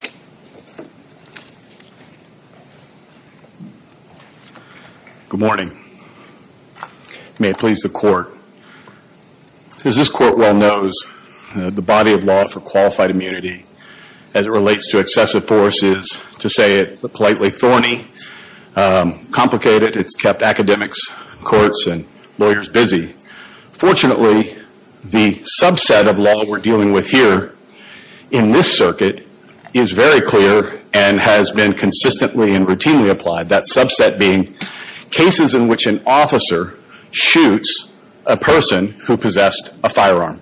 Good morning. May it please the Court. As this Court well knows, the body of law for qualified immunity, as it relates to excessive force, is, to say it politely, thorny, complicated. It's kept academics, courts, and lawyers busy. Fortunately, the subset of law we're dealing with here in this circuit is very clear and has been consistently and routinely applied. That subset being cases in which an officer shoots a person who possessed a firearm.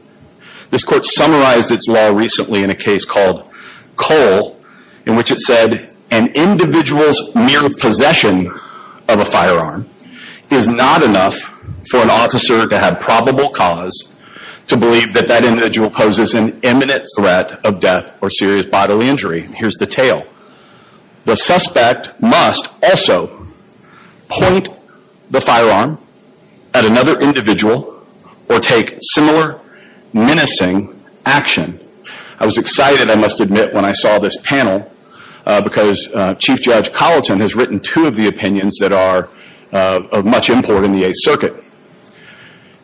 This Court summarized its law recently in a case called Cole, in which it said an individual's mere possession of a firearm is not enough for an officer to have probable cause to believe that that individual poses an imminent threat of death or serious bodily injury. Here's the tale. The suspect must also point the firearm at another individual or take similar menacing action. I was excited, I must admit, when I saw this panel because Chief Judge Colleton has written two of the opinions that are of much import in the Eighth Circuit.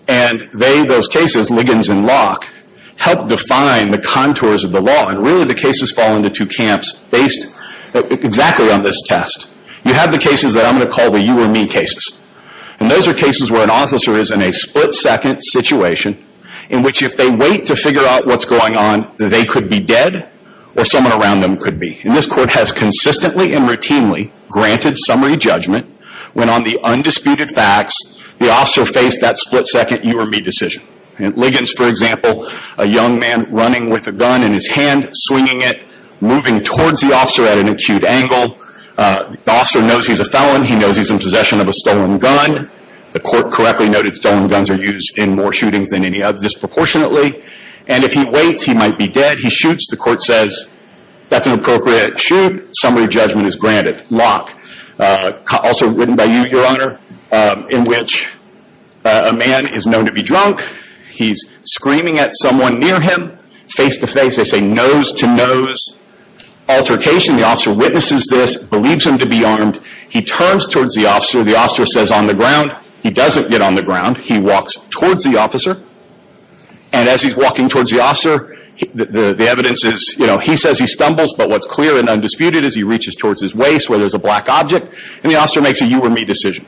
And they, those cases, Liggins and Locke, help define the contours of the law. And really the cases fall into two camps based exactly on this test. You have the cases that I'm going to call the you or me cases. And those are cases where an officer is in a split second situation in which if they wait to figure out what's going on, they could be dead or someone around them could be. And this Court has consistently and routinely granted summary judgment when on the undisputed facts the officer faced that split second you or me decision. Liggins, for example, a young man running with a gun in his hand, swinging it, moving towards the officer at an acute angle. The officer knows he's a felon. He knows he's in possession of a stolen gun. The Court correctly noted stolen guns are used in more shootings than any other disproportionately. And if he waits, he might be dead. He shoots. The appropriate shoot, summary judgment is granted. Locke, also written by you, your Honor, in which a man is known to be drunk. He's screaming at someone near him face to face. They say nose to nose altercation. The officer witnesses this, believes him to be armed. He turns towards the officer. The officer says on the ground. He doesn't get on the ground. He walks towards the officer. And as he's walking towards the officer, the evidence is, you know, he says he stumbles. But what's clear and undisputed is he reaches towards his waist where there's a black object. And the officer makes a you or me decision.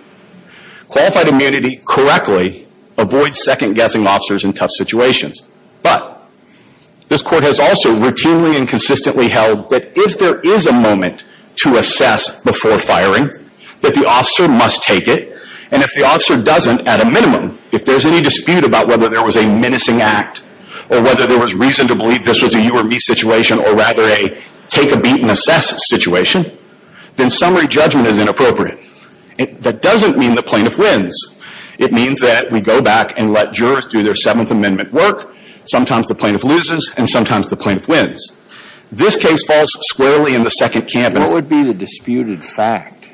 Qualified immunity correctly avoids second-guessing officers in tough situations. But this Court has also routinely and consistently held that if there is a moment to assess before firing, that the officer must take it. And if the officer doesn't, at a minimum, if there's any dispute about whether there was a menacing act or whether there was reason to believe this was a you or me situation or rather a take a beat and assess situation, then summary judgment is inappropriate. That doesn't mean the plaintiff wins. It means that we go back and let jurors do their Seventh Amendment work. Sometimes the plaintiff loses, and sometimes the plaintiff wins. This case falls squarely in the second camp. What would be the disputed fact?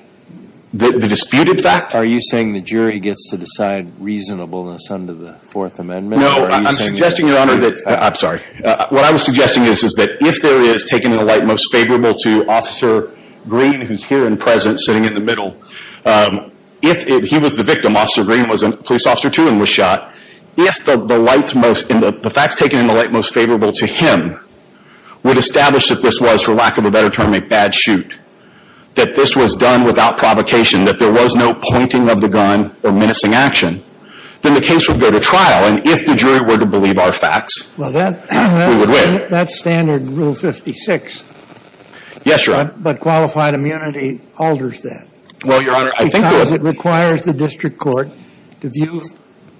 The disputed fact? Are you saying the jury gets to decide reasonableness under the Fourth Amendment? No, I'm suggesting, Your Honor, that, I'm sorry, what I was suggesting is that if there is taken in the light most favorable to Officer Green, who's here and present, sitting in the middle, if he was the victim, Officer Green was a police officer, too, and was shot, if the facts taken in the light most favorable to him would establish that this was, for lack of a better term, a bad shoot, that this was done without provocation, that there was no pointing of the gun or menacing action, then the case would go to trial. And if the jury were to believe our facts, we would win. Well, that's standard Rule 56. Yes, Your Honor. But qualified immunity alters that. Well, Your Honor, I think there was – Because it requires the district court to view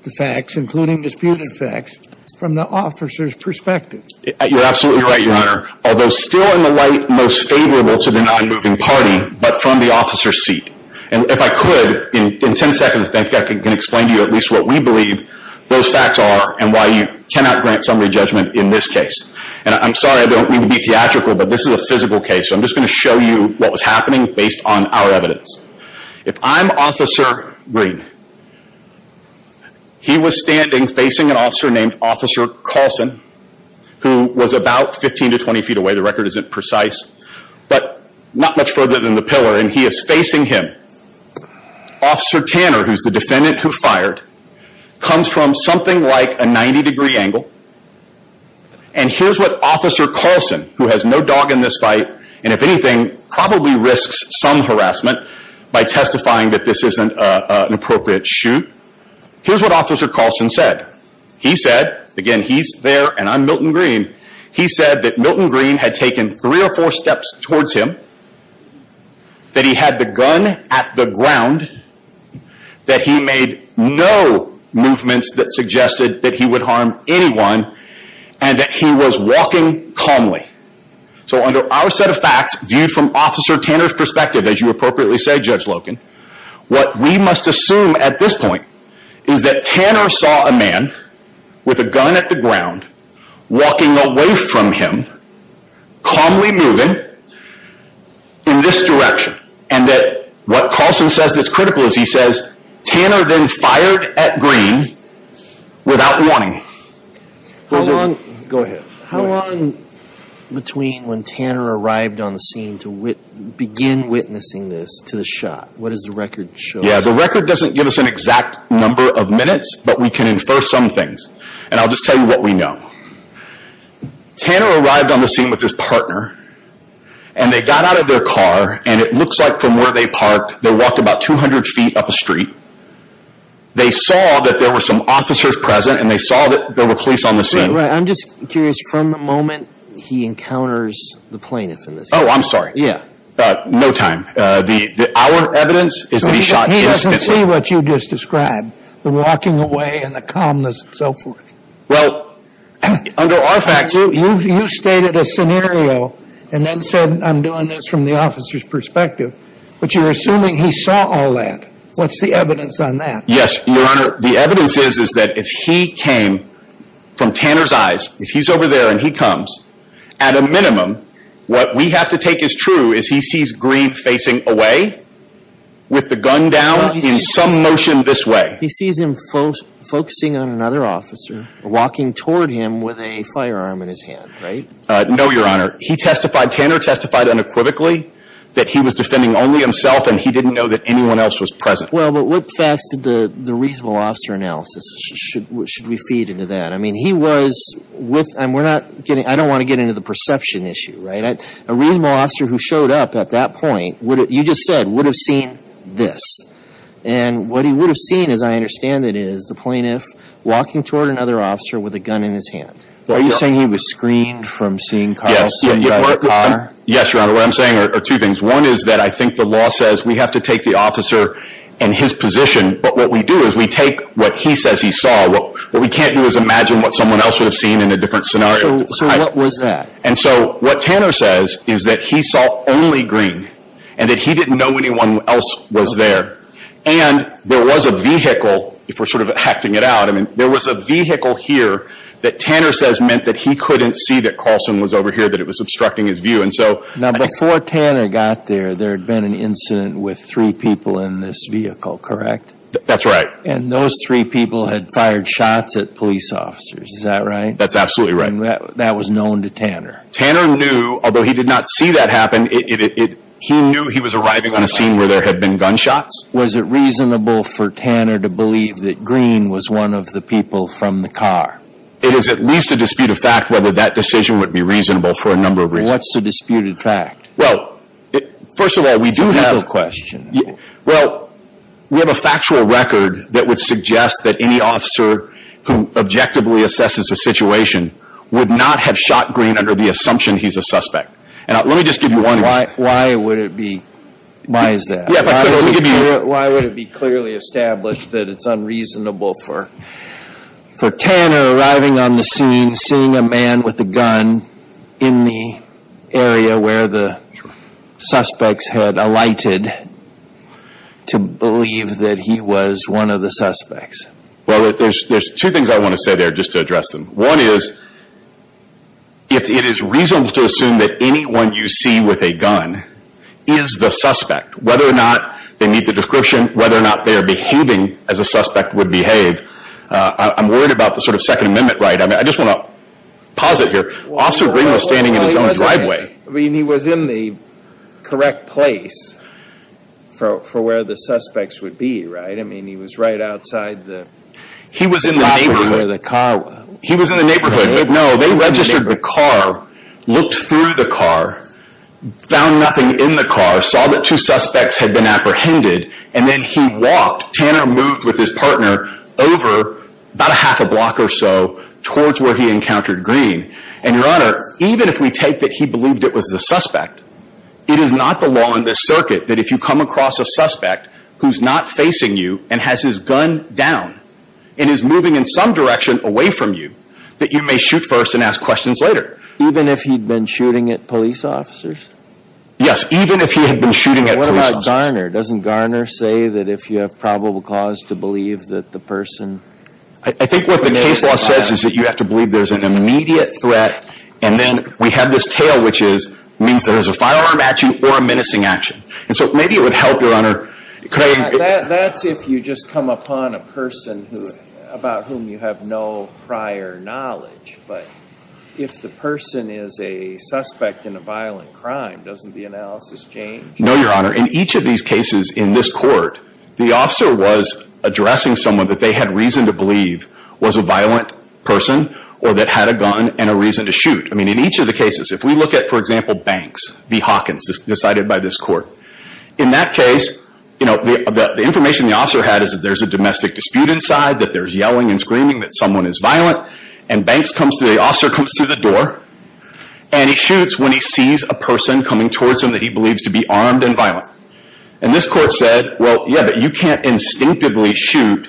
the facts, including disputed facts, from the officer's perspective. You're absolutely right, Your Honor, although still in the light most favorable to the nonmoving party, but from the officer's seat. And if I could, in ten seconds, I think I can explain to you at least what we believe those facts are and why you cannot grant summary judgment in this case. And I'm sorry I don't mean to be theatrical, but this is a physical case, so I'm just going to show you what was happening based on our evidence. If I'm Officer Green, he was standing facing an officer named Officer Colson, who was about 15 to 20 feet away. The record isn't precise, but not much further than the pillar, and he is facing him. Officer Tanner, who's the defendant who fired, comes from something like a 90-degree angle. And here's what Officer Colson, who has no dog in this fight, and if anything, probably risks some harassment by testifying that this isn't an appropriate shoot. Here's what Officer Colson said. He said, again, he's there and I'm Milton Green, he said that Milton Green had taken three or four steps towards him, that he had the gun at the ground, that he made no movements that suggested that he would harm anyone, and that he was walking calmly. So under our set of facts, viewed from Officer Tanner's perspective, as you appropriately say Judge Loken, what we must assume at this point is that Tanner saw a man with a gun at the ground, walking away from him, calmly moving in this direction, and that what Colson says that's critical is he says, Tanner then fired at Green without warning. How long between when Tanner arrived on the scene to begin witnessing this to the shot? What does the record show? Yeah, the record doesn't give us an exact number of minutes, but we can infer some things. And I'll just tell you what we know. Tanner arrived on the scene with his partner, and they got out of their car, and it looks like from where they parked, they walked about 200 feet up a street. They saw that there were some officers present, and they saw that there were police on the scene. Right, I'm just curious, from the moment he encounters the plaintiff in this case? Oh, I'm sorry. Yeah. No time. Our evidence is that he shot instantly. He doesn't see what you just described, the walking away and the calmness and so forth. Well, under our facts... You stated a scenario, and then said, I'm doing this from the officer's perspective. But you're assuming he saw all that. What's the evidence on that? Yes, Your Honor. The evidence is that if he came from Tanner's eyes, if he's over there and he comes, at a minimum, what we have to take as true is he sees Green facing away with the gun down in some motion this way. He sees him focusing on another officer, walking toward him with a firearm in his hand, right? No, Your Honor. He testified, Tanner testified unequivocally that he was defending only himself, and he didn't know that anyone else was present. Well, but what facts did the reasonable officer analysis, should we feed into that? I mean, he was with, and we're not getting, I don't want to get into the perception issue, right? A reasonable officer who showed up at that point, you just said, would have seen this. And what he would have seen, as I understand it, is the plaintiff walking toward another officer with a gun in his hand. Are you saying he was screened from seeing Carl sitting by the car? Yes, Your Honor. What I'm saying are two things. One is that I think the law says we have to take the officer in his position, but what we do is we take what he says he saw. What we can't do is imagine what someone else would have seen in a different scenario. So what was that? And so what Tanner says is that he saw only Green, and that he didn't know anyone else was there. And there was a vehicle, if we're sort of acting it out, I mean, there was a vehicle here that Tanner says meant that he couldn't see that Carlson was over here, that it was obstructing his view. Now, before Tanner got there, there had been an incident with three people in this vehicle, correct? That's right. And those three people had fired shots at police officers, is that right? That's absolutely right. And that was known to Tanner. Tanner knew, although he did not see that happen, he knew he was arriving on a scene where there had been gunshots. Was it reasonable for Tanner to believe that Green was one of the people from the car? It is at least a dispute of fact whether that decision would be reasonable for a number of reasons. And what's the disputed fact? Well, first of all, we do have a factual record that would suggest that any officer who objectively assesses a situation would not have shot Green under the assumption he's a suspect. And let me just give you one example. Why is that? Why would it be clearly established that it's unreasonable for Tanner arriving on the scene, seeing a man with a gun in the area where the suspects had alighted, to believe that he was one of the suspects? Well, there's two things I want to say there just to address them. One is, if it is reasonable to assume that anyone you see with a gun is the suspect, whether or not they meet the description, whether or not they are behaving as a suspect would behave, I'm worried about the sort of Second Amendment right. I just want to posit here, Officer Green was standing in his own driveway. I mean, he was in the correct place for where the suspects would be, right? I mean, he was right outside the block from where the car was. He was in the neighborhood. No, they registered the car, looked through the car, found nothing in the car, saw that two suspects had been apprehended, and then he walked. Tanner moved with his partner over about a half a block or so towards where he encountered Green. And, Your Honor, even if we take that he believed it was the suspect, it is not the law in this circuit that if you come across a suspect who's not facing you and has his gun down and is moving in some direction away from you, that you may shoot first and ask questions later. Even if he'd been shooting at police officers? Yes, even if he had been shooting at police officers. What about Garner? Doesn't Garner say that if you have probable cause to believe that the person… I think what the case law says is that you have to believe there's an immediate threat, and then we have this tale which means there's a firearm at you or a menacing action. And so maybe it would help, Your Honor. That's if you just come upon a person about whom you have no prior knowledge. But if the person is a suspect in a violent crime, doesn't the analysis change? No, Your Honor. In each of these cases in this court, the officer was addressing someone that they had reason to believe was a violent person or that had a gun and a reason to shoot. I mean, in each of the cases. If we look at, for example, Banks v. Hawkins decided by this court. In that case, you know, the information the officer had is that there's a domestic dispute inside, that there's yelling and screaming, that someone is violent. And the officer comes through the door, and he shoots when he sees a person coming towards him that he believes to be armed and violent. And this court said, well, yeah, but you can't instinctively shoot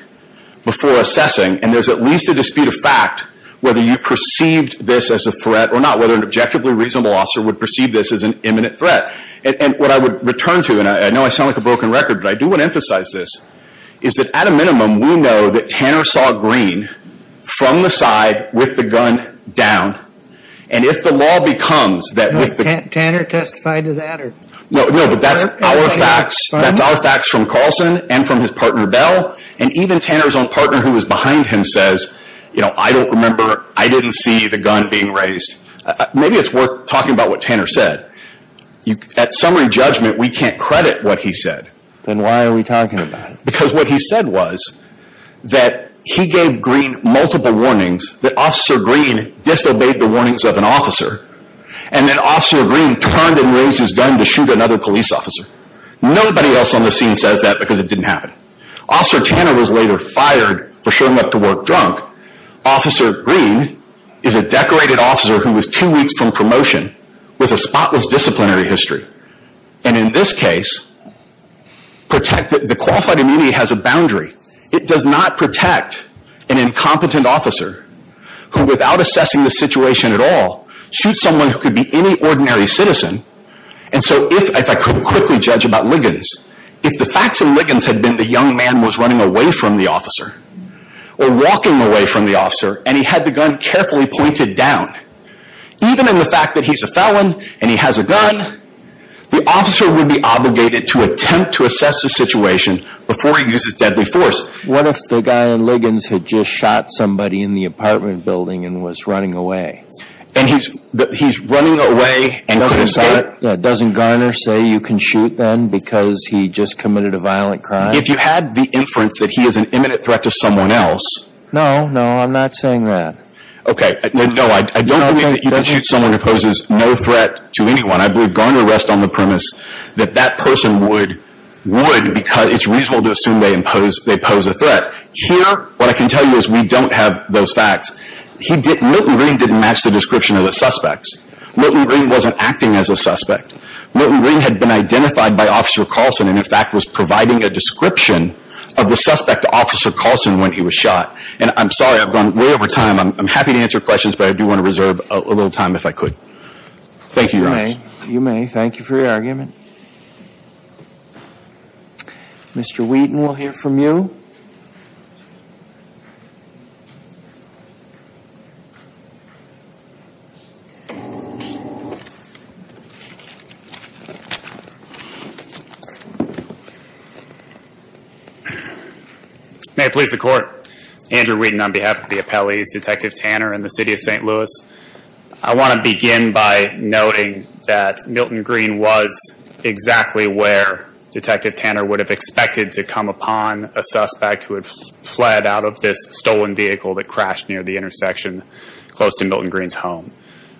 before assessing. And there's at least a dispute of fact whether you perceived this as a threat or not, whether an objectively reasonable officer would perceive this as an imminent threat. And what I would return to, and I know I sound like a broken record, but I do want to emphasize this. Is that at a minimum, we know that Tanner saw Green from the side with the gun down. And if the law becomes that with the... Tanner testified to that? No, but that's our facts. That's our facts from Carlson and from his partner Bell. And even Tanner's own partner who was behind him says, you know, I don't remember, I didn't see the gun being raised. Maybe it's worth talking about what Tanner said. At summary judgment, we can't credit what he said. Then why are we talking about it? Because what he said was that he gave Green multiple warnings, that Officer Green disobeyed the warnings of an officer. And then Officer Green turned and raised his gun to shoot another police officer. Nobody else on the scene says that because it didn't happen. Officer Tanner was later fired for showing up to work drunk. Officer Green is a decorated officer who was two weeks from promotion with a spotless disciplinary history. And in this case, the qualified immunity has a boundary. It does not protect an incompetent officer who, without assessing the situation at all, shoots someone who could be any ordinary citizen. And so if I could quickly judge about Liggins, if the facts in Liggins had been the young man was running away from the officer or walking away from the officer and he had the gun carefully pointed down, even in the fact that he's a felon and he has a gun, the officer would be obligated to attempt to assess the situation before he uses deadly force. What if the guy in Liggins had just shot somebody in the apartment building and was running away? And he's running away and couldn't escape? Doesn't Garner say you can shoot then because he just committed a violent crime? If you had the inference that he is an imminent threat to someone else... No, no, I'm not saying that. Okay, no, I don't believe that you can shoot someone who poses no threat to anyone. I believe Garner rests on the premise that that person would because it's reasonable to assume they pose a threat. Here, what I can tell you is we don't have those facts. Milton Green didn't match the description of the suspects. Milton Green wasn't acting as a suspect. Milton Green had been identified by Officer Carlson and, in fact, was providing a description of the suspect, Officer Carlson, when he was shot. And I'm sorry, I've gone way over time. I'm happy to answer questions, but I do want to reserve a little time if I could. Thank you, Your Honor. You may. Thank you for your argument. Mr. Wheaton, we'll hear from you. May it please the Court. Andrew Wheaton on behalf of the appellees, Detective Tanner and the City of St. Louis. I want to begin by noting that Milton Green was exactly where Detective Tanner would have expected to come upon a suspect who had fled out of this stolen vehicle that crashed near the intersection close to Milton Green's home.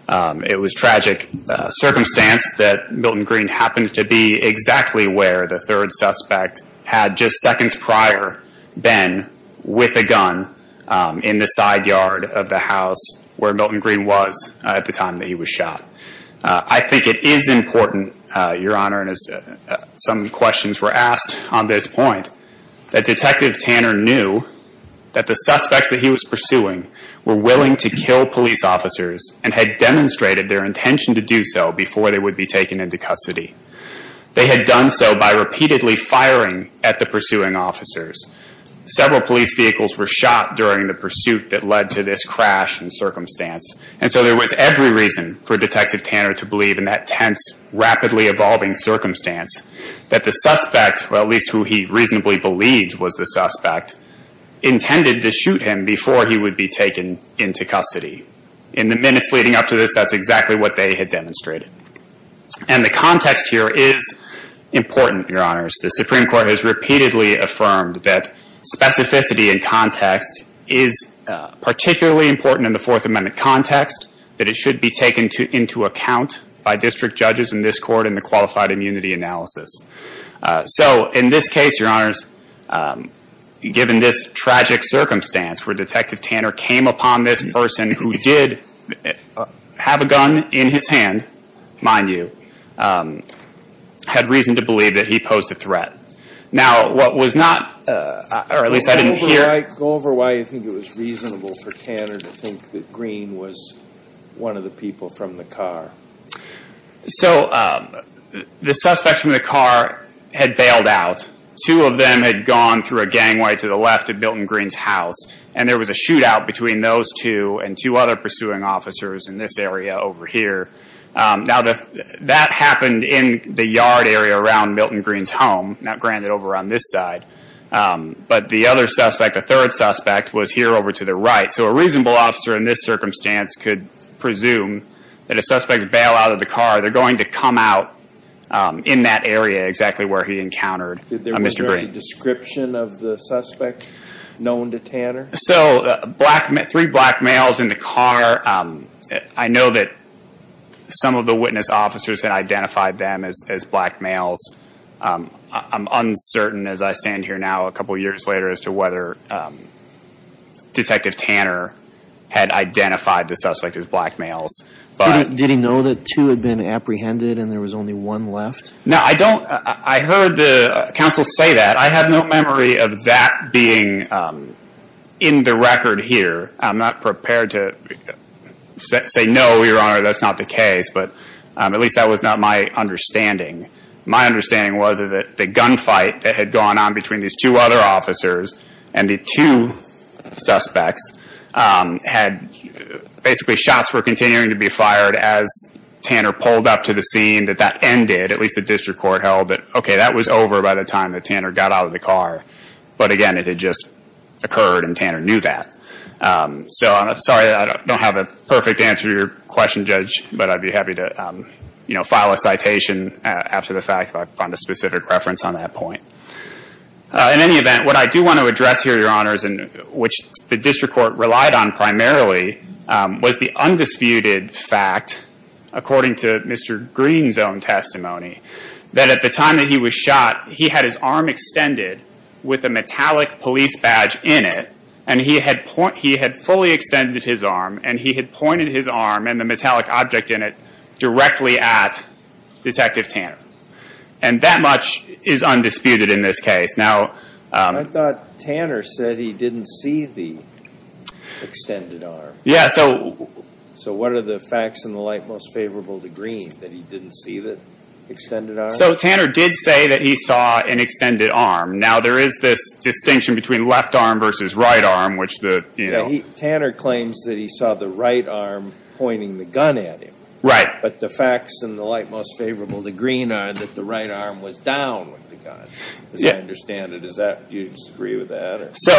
It was a tragic circumstance that Milton Green happened to be exactly where the third suspect had just seconds prior been with a gun in the side yard of the house where Milton Green was at the time that he was shot. I think it is important, Your Honor, and as some questions were asked on this point, that Detective Tanner knew that the suspects that he was pursuing were willing to kill police officers and had demonstrated their intention to do so before they would be taken into custody. They had done so by repeatedly firing at the pursuing officers. Several police vehicles were shot during the pursuit that led to this crash and circumstance. And so there was every reason for Detective Tanner to believe in that tense, rapidly evolving circumstance that the suspect, or at least who he reasonably believed was the suspect, intended to shoot him before he would be taken into custody. In the minutes leading up to this, that's exactly what they had demonstrated. And the context here is important, Your Honors. The Supreme Court has repeatedly affirmed that specificity in context is particularly important in the Fourth Amendment context, that it should be taken into account by district judges in this Court in the qualified immunity analysis. So in this case, Your Honors, given this tragic circumstance where Detective Tanner came upon this person who did have a gun in his hand, mind you, had reason to believe that he posed a threat. Go over why you think it was reasonable for Tanner to think that Green was one of the people from the car. So the suspect from the car had bailed out. Two of them had gone through a gangway to the left of Milton Green's house. And there was a shootout between those two and two other pursuing officers in this area over here. Now that happened in the yard area around Milton Green's home, not granted over on this side. But the other suspect, the third suspect, was here over to the right. So a reasonable officer in this circumstance could presume that if suspects bail out of the car, they're going to come out in that area exactly where he encountered Mr. Green. Was there any description of the suspect known to Tanner? So three black males in the car. I know that some of the witness officers had identified them as black males. I'm uncertain, as I stand here now a couple years later, as to whether Detective Tanner had identified the suspect as black males. Did he know that two had been apprehended and there was only one left? No, I heard the counsel say that. I have no memory of that being in the record here. I'm not prepared to say no, Your Honor, that's not the case. But at least that was not my understanding. My understanding was that the gunfight that had gone on between these two other officers and the two suspects had basically shots were continuing to be fired as Tanner pulled up to the scene. At least the district court held that, okay, that was over by the time that Tanner got out of the car. But again, it had just occurred and Tanner knew that. So I'm sorry I don't have a perfect answer to your question, Judge, but I'd be happy to file a citation after the fact if I find a specific reference on that point. In any event, what I do want to address here, Your Honors, and which the district court relied on primarily, was the undisputed fact, according to Mr. Green's own testimony, that at the time that he was shot, he had his arm extended with a metallic police badge in it and he had fully extended his arm and he had pointed his arm and the metallic object in it directly at Detective Tanner. And that much is undisputed in this case. I thought Tanner said he didn't see the extended arm. So what are the facts in the light most favorable to Green, that he didn't see the extended arm? So Tanner did say that he saw an extended arm. Now there is this distinction between left arm versus right arm. Tanner claims that he saw the right arm pointing the gun at him. But the facts in the light most favorable to Green are that the right arm was down with the gun. As I understand it, do you disagree with that? So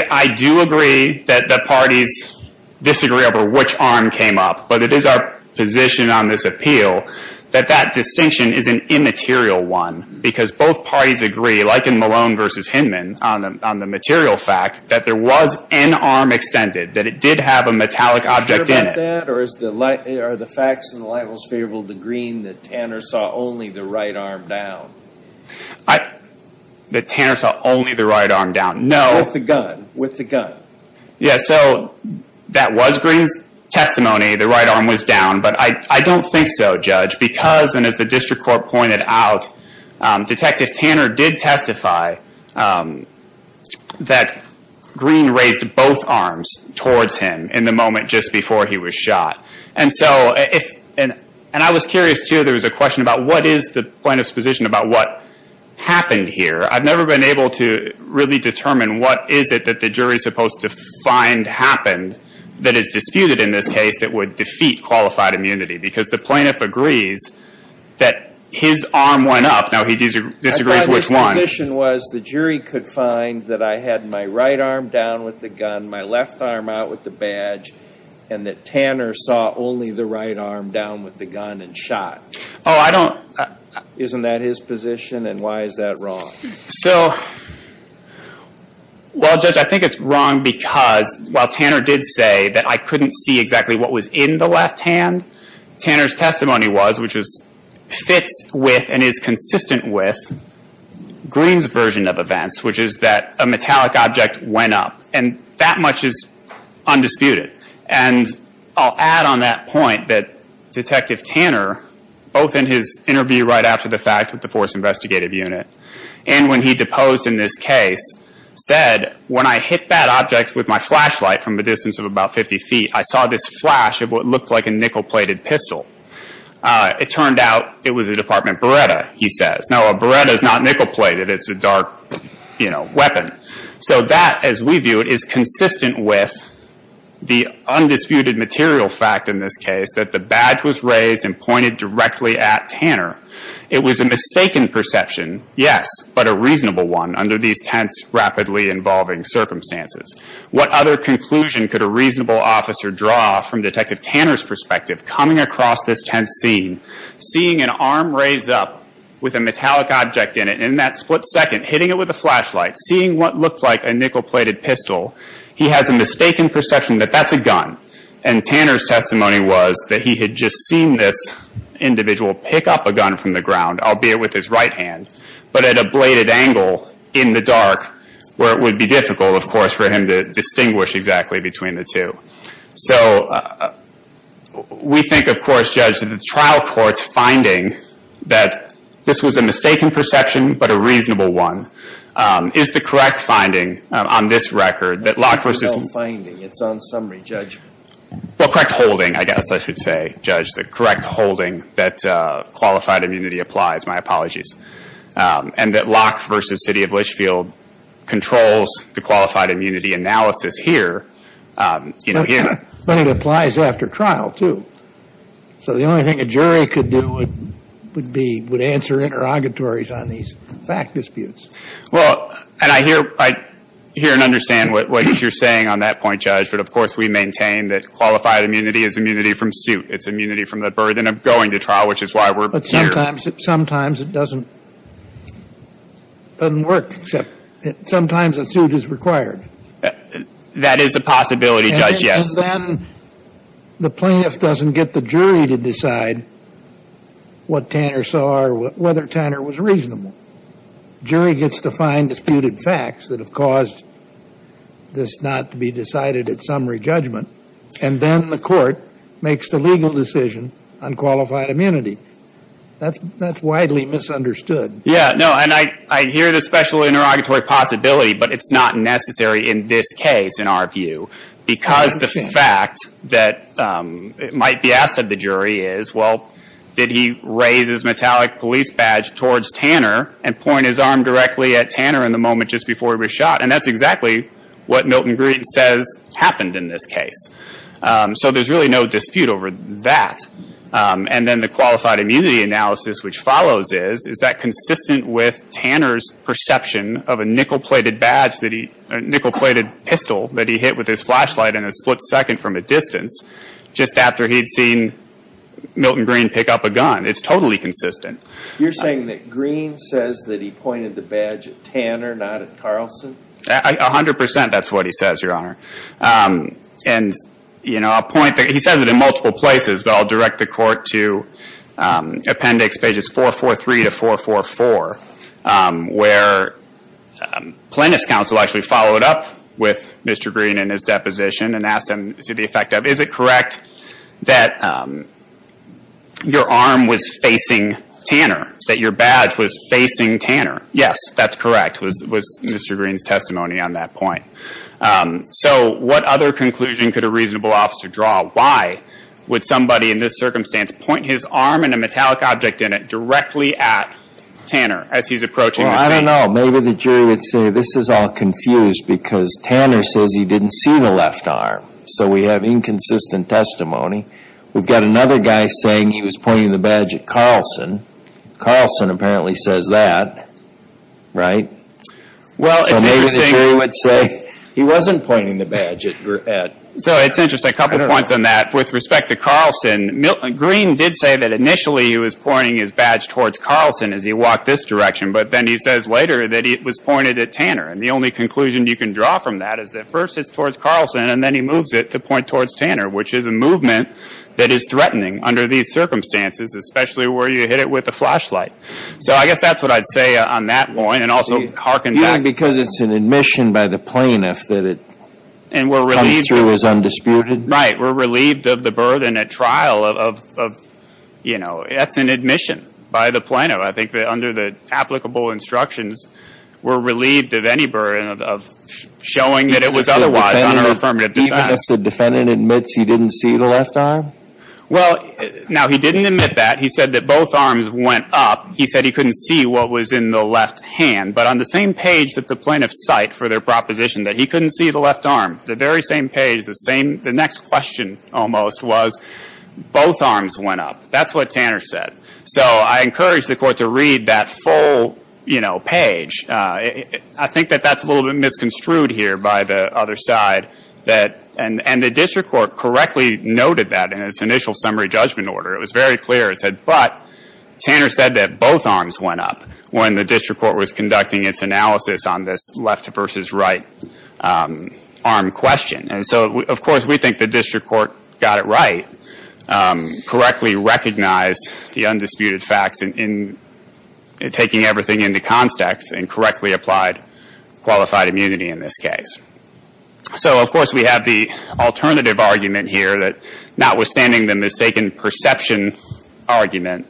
I do agree that the parties disagree over which arm came up, but it is our position on this appeal that that distinction is an immaterial one, because both parties agree, like in Malone versus Hinman, on the material fact, that there was an arm extended, that it did have a metallic object in it. Are you sure about that? Or are the facts in the light most favorable to Green that Tanner saw only the right arm down? That Tanner saw only the right arm down, no. With the gun, with the gun. Yeah, so that was Green's testimony, the right arm was down. But I don't think so, Judge, because, and as the district court pointed out, Detective Tanner did testify that Green raised both arms towards him in the moment just before he was shot. And I was curious, too, there was a question about what is the plaintiff's position about what happened here. I've never been able to really determine what is it that the jury is supposed to find happened that is disputed in this case that would defeat qualified immunity, because the plaintiff agrees that his arm went up. Now, he disagrees which one. I thought his position was the jury could find that I had my right arm down with the gun, and my left arm out with the badge, and that Tanner saw only the right arm down with the gun and shot. Oh, I don't. Isn't that his position, and why is that wrong? So, well, Judge, I think it's wrong because while Tanner did say that I couldn't see exactly what was in the left hand, Tanner's testimony was, which fits with and is consistent with Green's version of events, which is that a metallic object went up, and that much is undisputed. And I'll add on that point that Detective Tanner, both in his interview right after the fact with the force investigative unit, and when he deposed in this case, said, when I hit that object with my flashlight from a distance of about 50 feet, I saw this flash of what looked like a nickel-plated pistol. It turned out it was a Department Beretta, he says. Now, a Beretta is not nickel-plated. It's a dark, you know, weapon. So that, as we view it, is consistent with the undisputed material fact in this case, that the badge was raised and pointed directly at Tanner. It was a mistaken perception, yes, but a reasonable one under these tense, rapidly-involving circumstances. What other conclusion could a reasonable officer draw from Detective Tanner's perspective, coming across this tense scene, seeing an arm raise up with a metallic object in it, and in that split second, hitting it with a flashlight, seeing what looked like a nickel-plated pistol, he has a mistaken perception that that's a gun. And Tanner's testimony was that he had just seen this individual pick up a gun from the ground, albeit with his right hand, but at a bladed angle in the dark, where it would be difficult, of course, for him to distinguish exactly between the two. So we think, of course, Judge, that the trial court's finding that this was a mistaken perception, but a reasonable one, is the correct finding on this record, that Locke versus... It's the correct finding. It's on summary, Judge. Well, correct holding, I guess I should say, Judge, the correct holding that qualified immunity applies. My apologies. And that Locke versus City of Litchfield controls the qualified immunity analysis here. But it applies after trial, too. So the only thing a jury could do would be answer interrogatories on these fact disputes. Well, and I hear and understand what you're saying on that point, Judge, but of course we maintain that qualified immunity is immunity from suit. It's immunity from the burden of going to trial, which is why we're here. But sometimes it doesn't work, except sometimes a suit is required. That is a possibility, Judge, yes. And then the plaintiff doesn't get the jury to decide what Tanner saw or whether Tanner was reasonable. The jury gets to find disputed facts that have caused this not to be decided at summary judgment, and then the court makes the legal decision on qualified immunity. That's widely misunderstood. Yeah, no, and I hear the special interrogatory possibility, but it's not necessary in this case, in our view, because the fact that it might be asked of the jury is, well, did he raise his metallic police badge towards Tanner and point his arm directly at Tanner in the moment just before he was shot? And that's exactly what Milton Green says happened in this case. So there's really no dispute over that. And then the qualified immunity analysis which follows is, is that consistent with Tanner's perception of a nickel-plated badge that he, a nickel-plated pistol that he hit with his flashlight in a split second from a distance just after he'd seen Milton Green pick up a gun? It's totally consistent. You're saying that Green says that he pointed the badge at Tanner, not at Carlson? A hundred percent that's what he says, Your Honor. And, you know, a point that he says it in multiple places, but I'll direct the court to appendix pages 443 to 444, where plaintiff's counsel actually followed up with Mr. Green and his deposition and asked him to the effect of, is it correct that your arm was facing Tanner, that your badge was facing Tanner? Yes, that's correct, was Mr. Green's testimony on that point. So what other conclusion could a reasonable officer draw? Why would somebody in this circumstance point his arm and a metallic object in it directly at Tanner as he's approaching the scene? Well, I don't know. Maybe the jury would say this is all confused because Tanner says he didn't see the left arm. So we have inconsistent testimony. We've got another guy saying he was pointing the badge at Carlson. Carlson apparently says that, right? So maybe the jury would say he wasn't pointing the badge at Green. So it's interesting, a couple points on that. With respect to Carlson, Green did say that initially he was pointing his badge towards Carlson as he walked this direction, but then he says later that it was pointed at Tanner. And the only conclusion you can draw from that is that first it's towards Carlson and then he moves it to point towards Tanner, which is a movement that is threatening under these circumstances, especially where you hit it with a flashlight. So I guess that's what I'd say on that point and also harken back. You think because it's an admission by the plaintiff that it comes through as undisputed? Right. We're relieved of the burden at trial of, you know, that's an admission by the plaintiff. I think that under the applicable instructions we're relieved of any burden of showing that it was otherwise on our affirmative defense. Even if the defendant admits he didn't see the left arm? Well, now he didn't admit that. He said that both arms went up. He said he couldn't see what was in the left hand. But on the same page that the plaintiff cite for their proposition that he couldn't see the left arm, the very same page, the next question almost was both arms went up. That's what Tanner said. So I encourage the Court to read that full, you know, page. I think that that's a little bit misconstrued here by the other side. And the district court correctly noted that in its initial summary judgment order. It was very clear. It said, but Tanner said that both arms went up when the district court was conducting its analysis on this left versus right arm question. And so, of course, we think the district court got it right, correctly recognized the undisputed facts in taking everything into context and correctly applied qualified immunity in this case. So, of course, we have the alternative argument here, that notwithstanding the mistaken perception argument,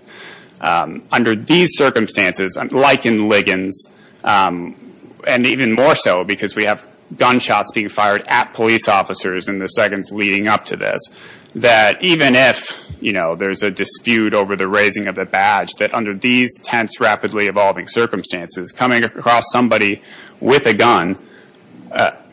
under these circumstances, like in Liggins, and even more so because we have gunshots being fired at police officers in the seconds leading up to this, that even if, you know, there's a dispute over the raising of the badge, that under these tense, rapidly evolving circumstances, coming across somebody with a gun,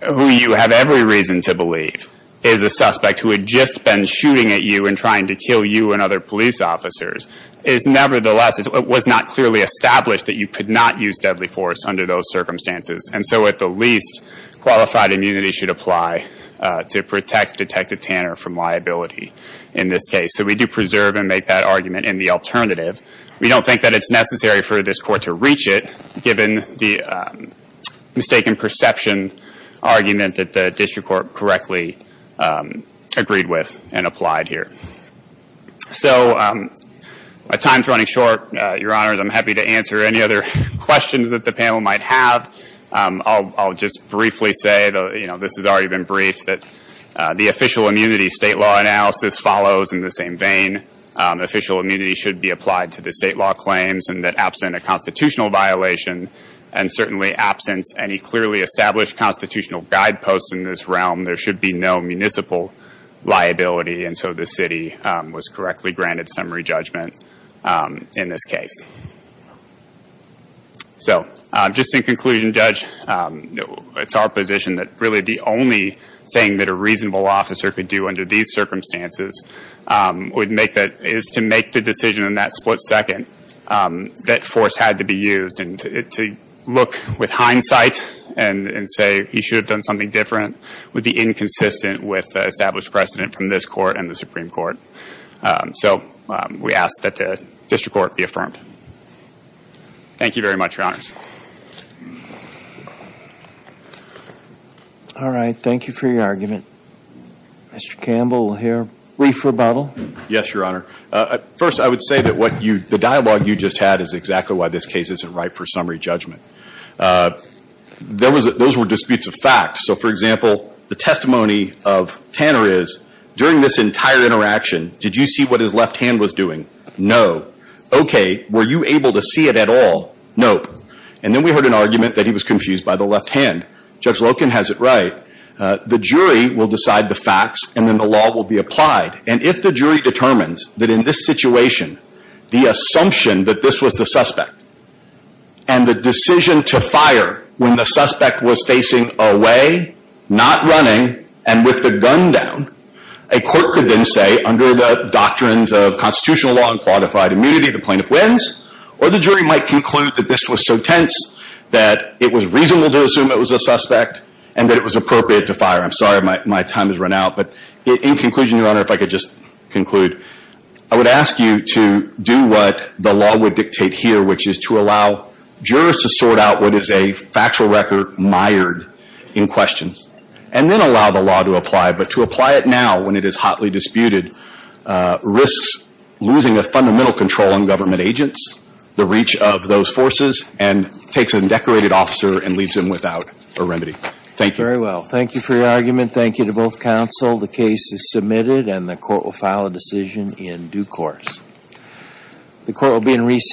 who you have every reason to believe is a suspect, who had just been shooting at you and trying to kill you and other police officers, is nevertheless, it was not clearly established that you could not use deadly force under those circumstances. And so at the least, qualified immunity should apply to protect Detective Tanner from liability in this case. So we do preserve and make that argument in the alternative. We don't think that it's necessary for this court to reach it, given the mistaken perception argument that the district court correctly agreed with and applied here. So, my time's running short, Your Honors. I'm happy to answer any other questions that the panel might have. I'll just briefly say, you know, this has already been briefed, that the official immunity state law analysis follows in the same vein. Official immunity should be applied to the state law claims, and that absent a constitutional violation, and certainly absent any clearly established constitutional guideposts in this realm, there should be no municipal liability, and so the city was correctly granted summary judgment in this case. So, just in conclusion, Judge, it's our position that really the only thing that a reasonable officer could do under these circumstances is to make the decision in that split second that force had to be used, and to look with hindsight and say he should have done something different would be inconsistent with the established precedent from this court and the Supreme Court. So, we ask that the district court be affirmed. Thank you very much, Your Honors. All right. Thank you for your argument. Mr. Campbell will hear brief rebuttal. Yes, Your Honor. First, I would say that the dialogue you just had is exactly why this case isn't ripe for summary judgment. Those were disputes of fact. So, for example, the testimony of Tanner is, during this entire interaction, did you see what his left hand was doing? No. Okay. Were you able to see it at all? Nope. And then we heard an argument that he was confused by the left hand. Judge Loken has it right. The jury will decide the facts, and then the law will be applied. And if the jury determines that in this situation, the assumption that this was the suspect, and the decision to fire when the suspect was facing away, not running, and with the gun down, a court could then say, under the doctrines of constitutional law and qualified immunity, the plaintiff wins, or the jury might conclude that this was so tense that it was reasonable to assume it was a suspect, and that it was appropriate to fire. I'm sorry my time has run out, but in conclusion, Your Honor, if I could just conclude, I would ask you to do what the law would dictate here, which is to allow jurors to sort out what is a factual record mired in question, and then allow the law to apply. But to apply it now, when it is hotly disputed, risks losing a fundamental control on government agents, the reach of those forces, and takes an undecorated officer and leaves him without a remedy. Thank you. Very well. Thank you for your argument. Thank you to both counsel. The case is submitted, and the court will file a decision in due course. The court will be in recess.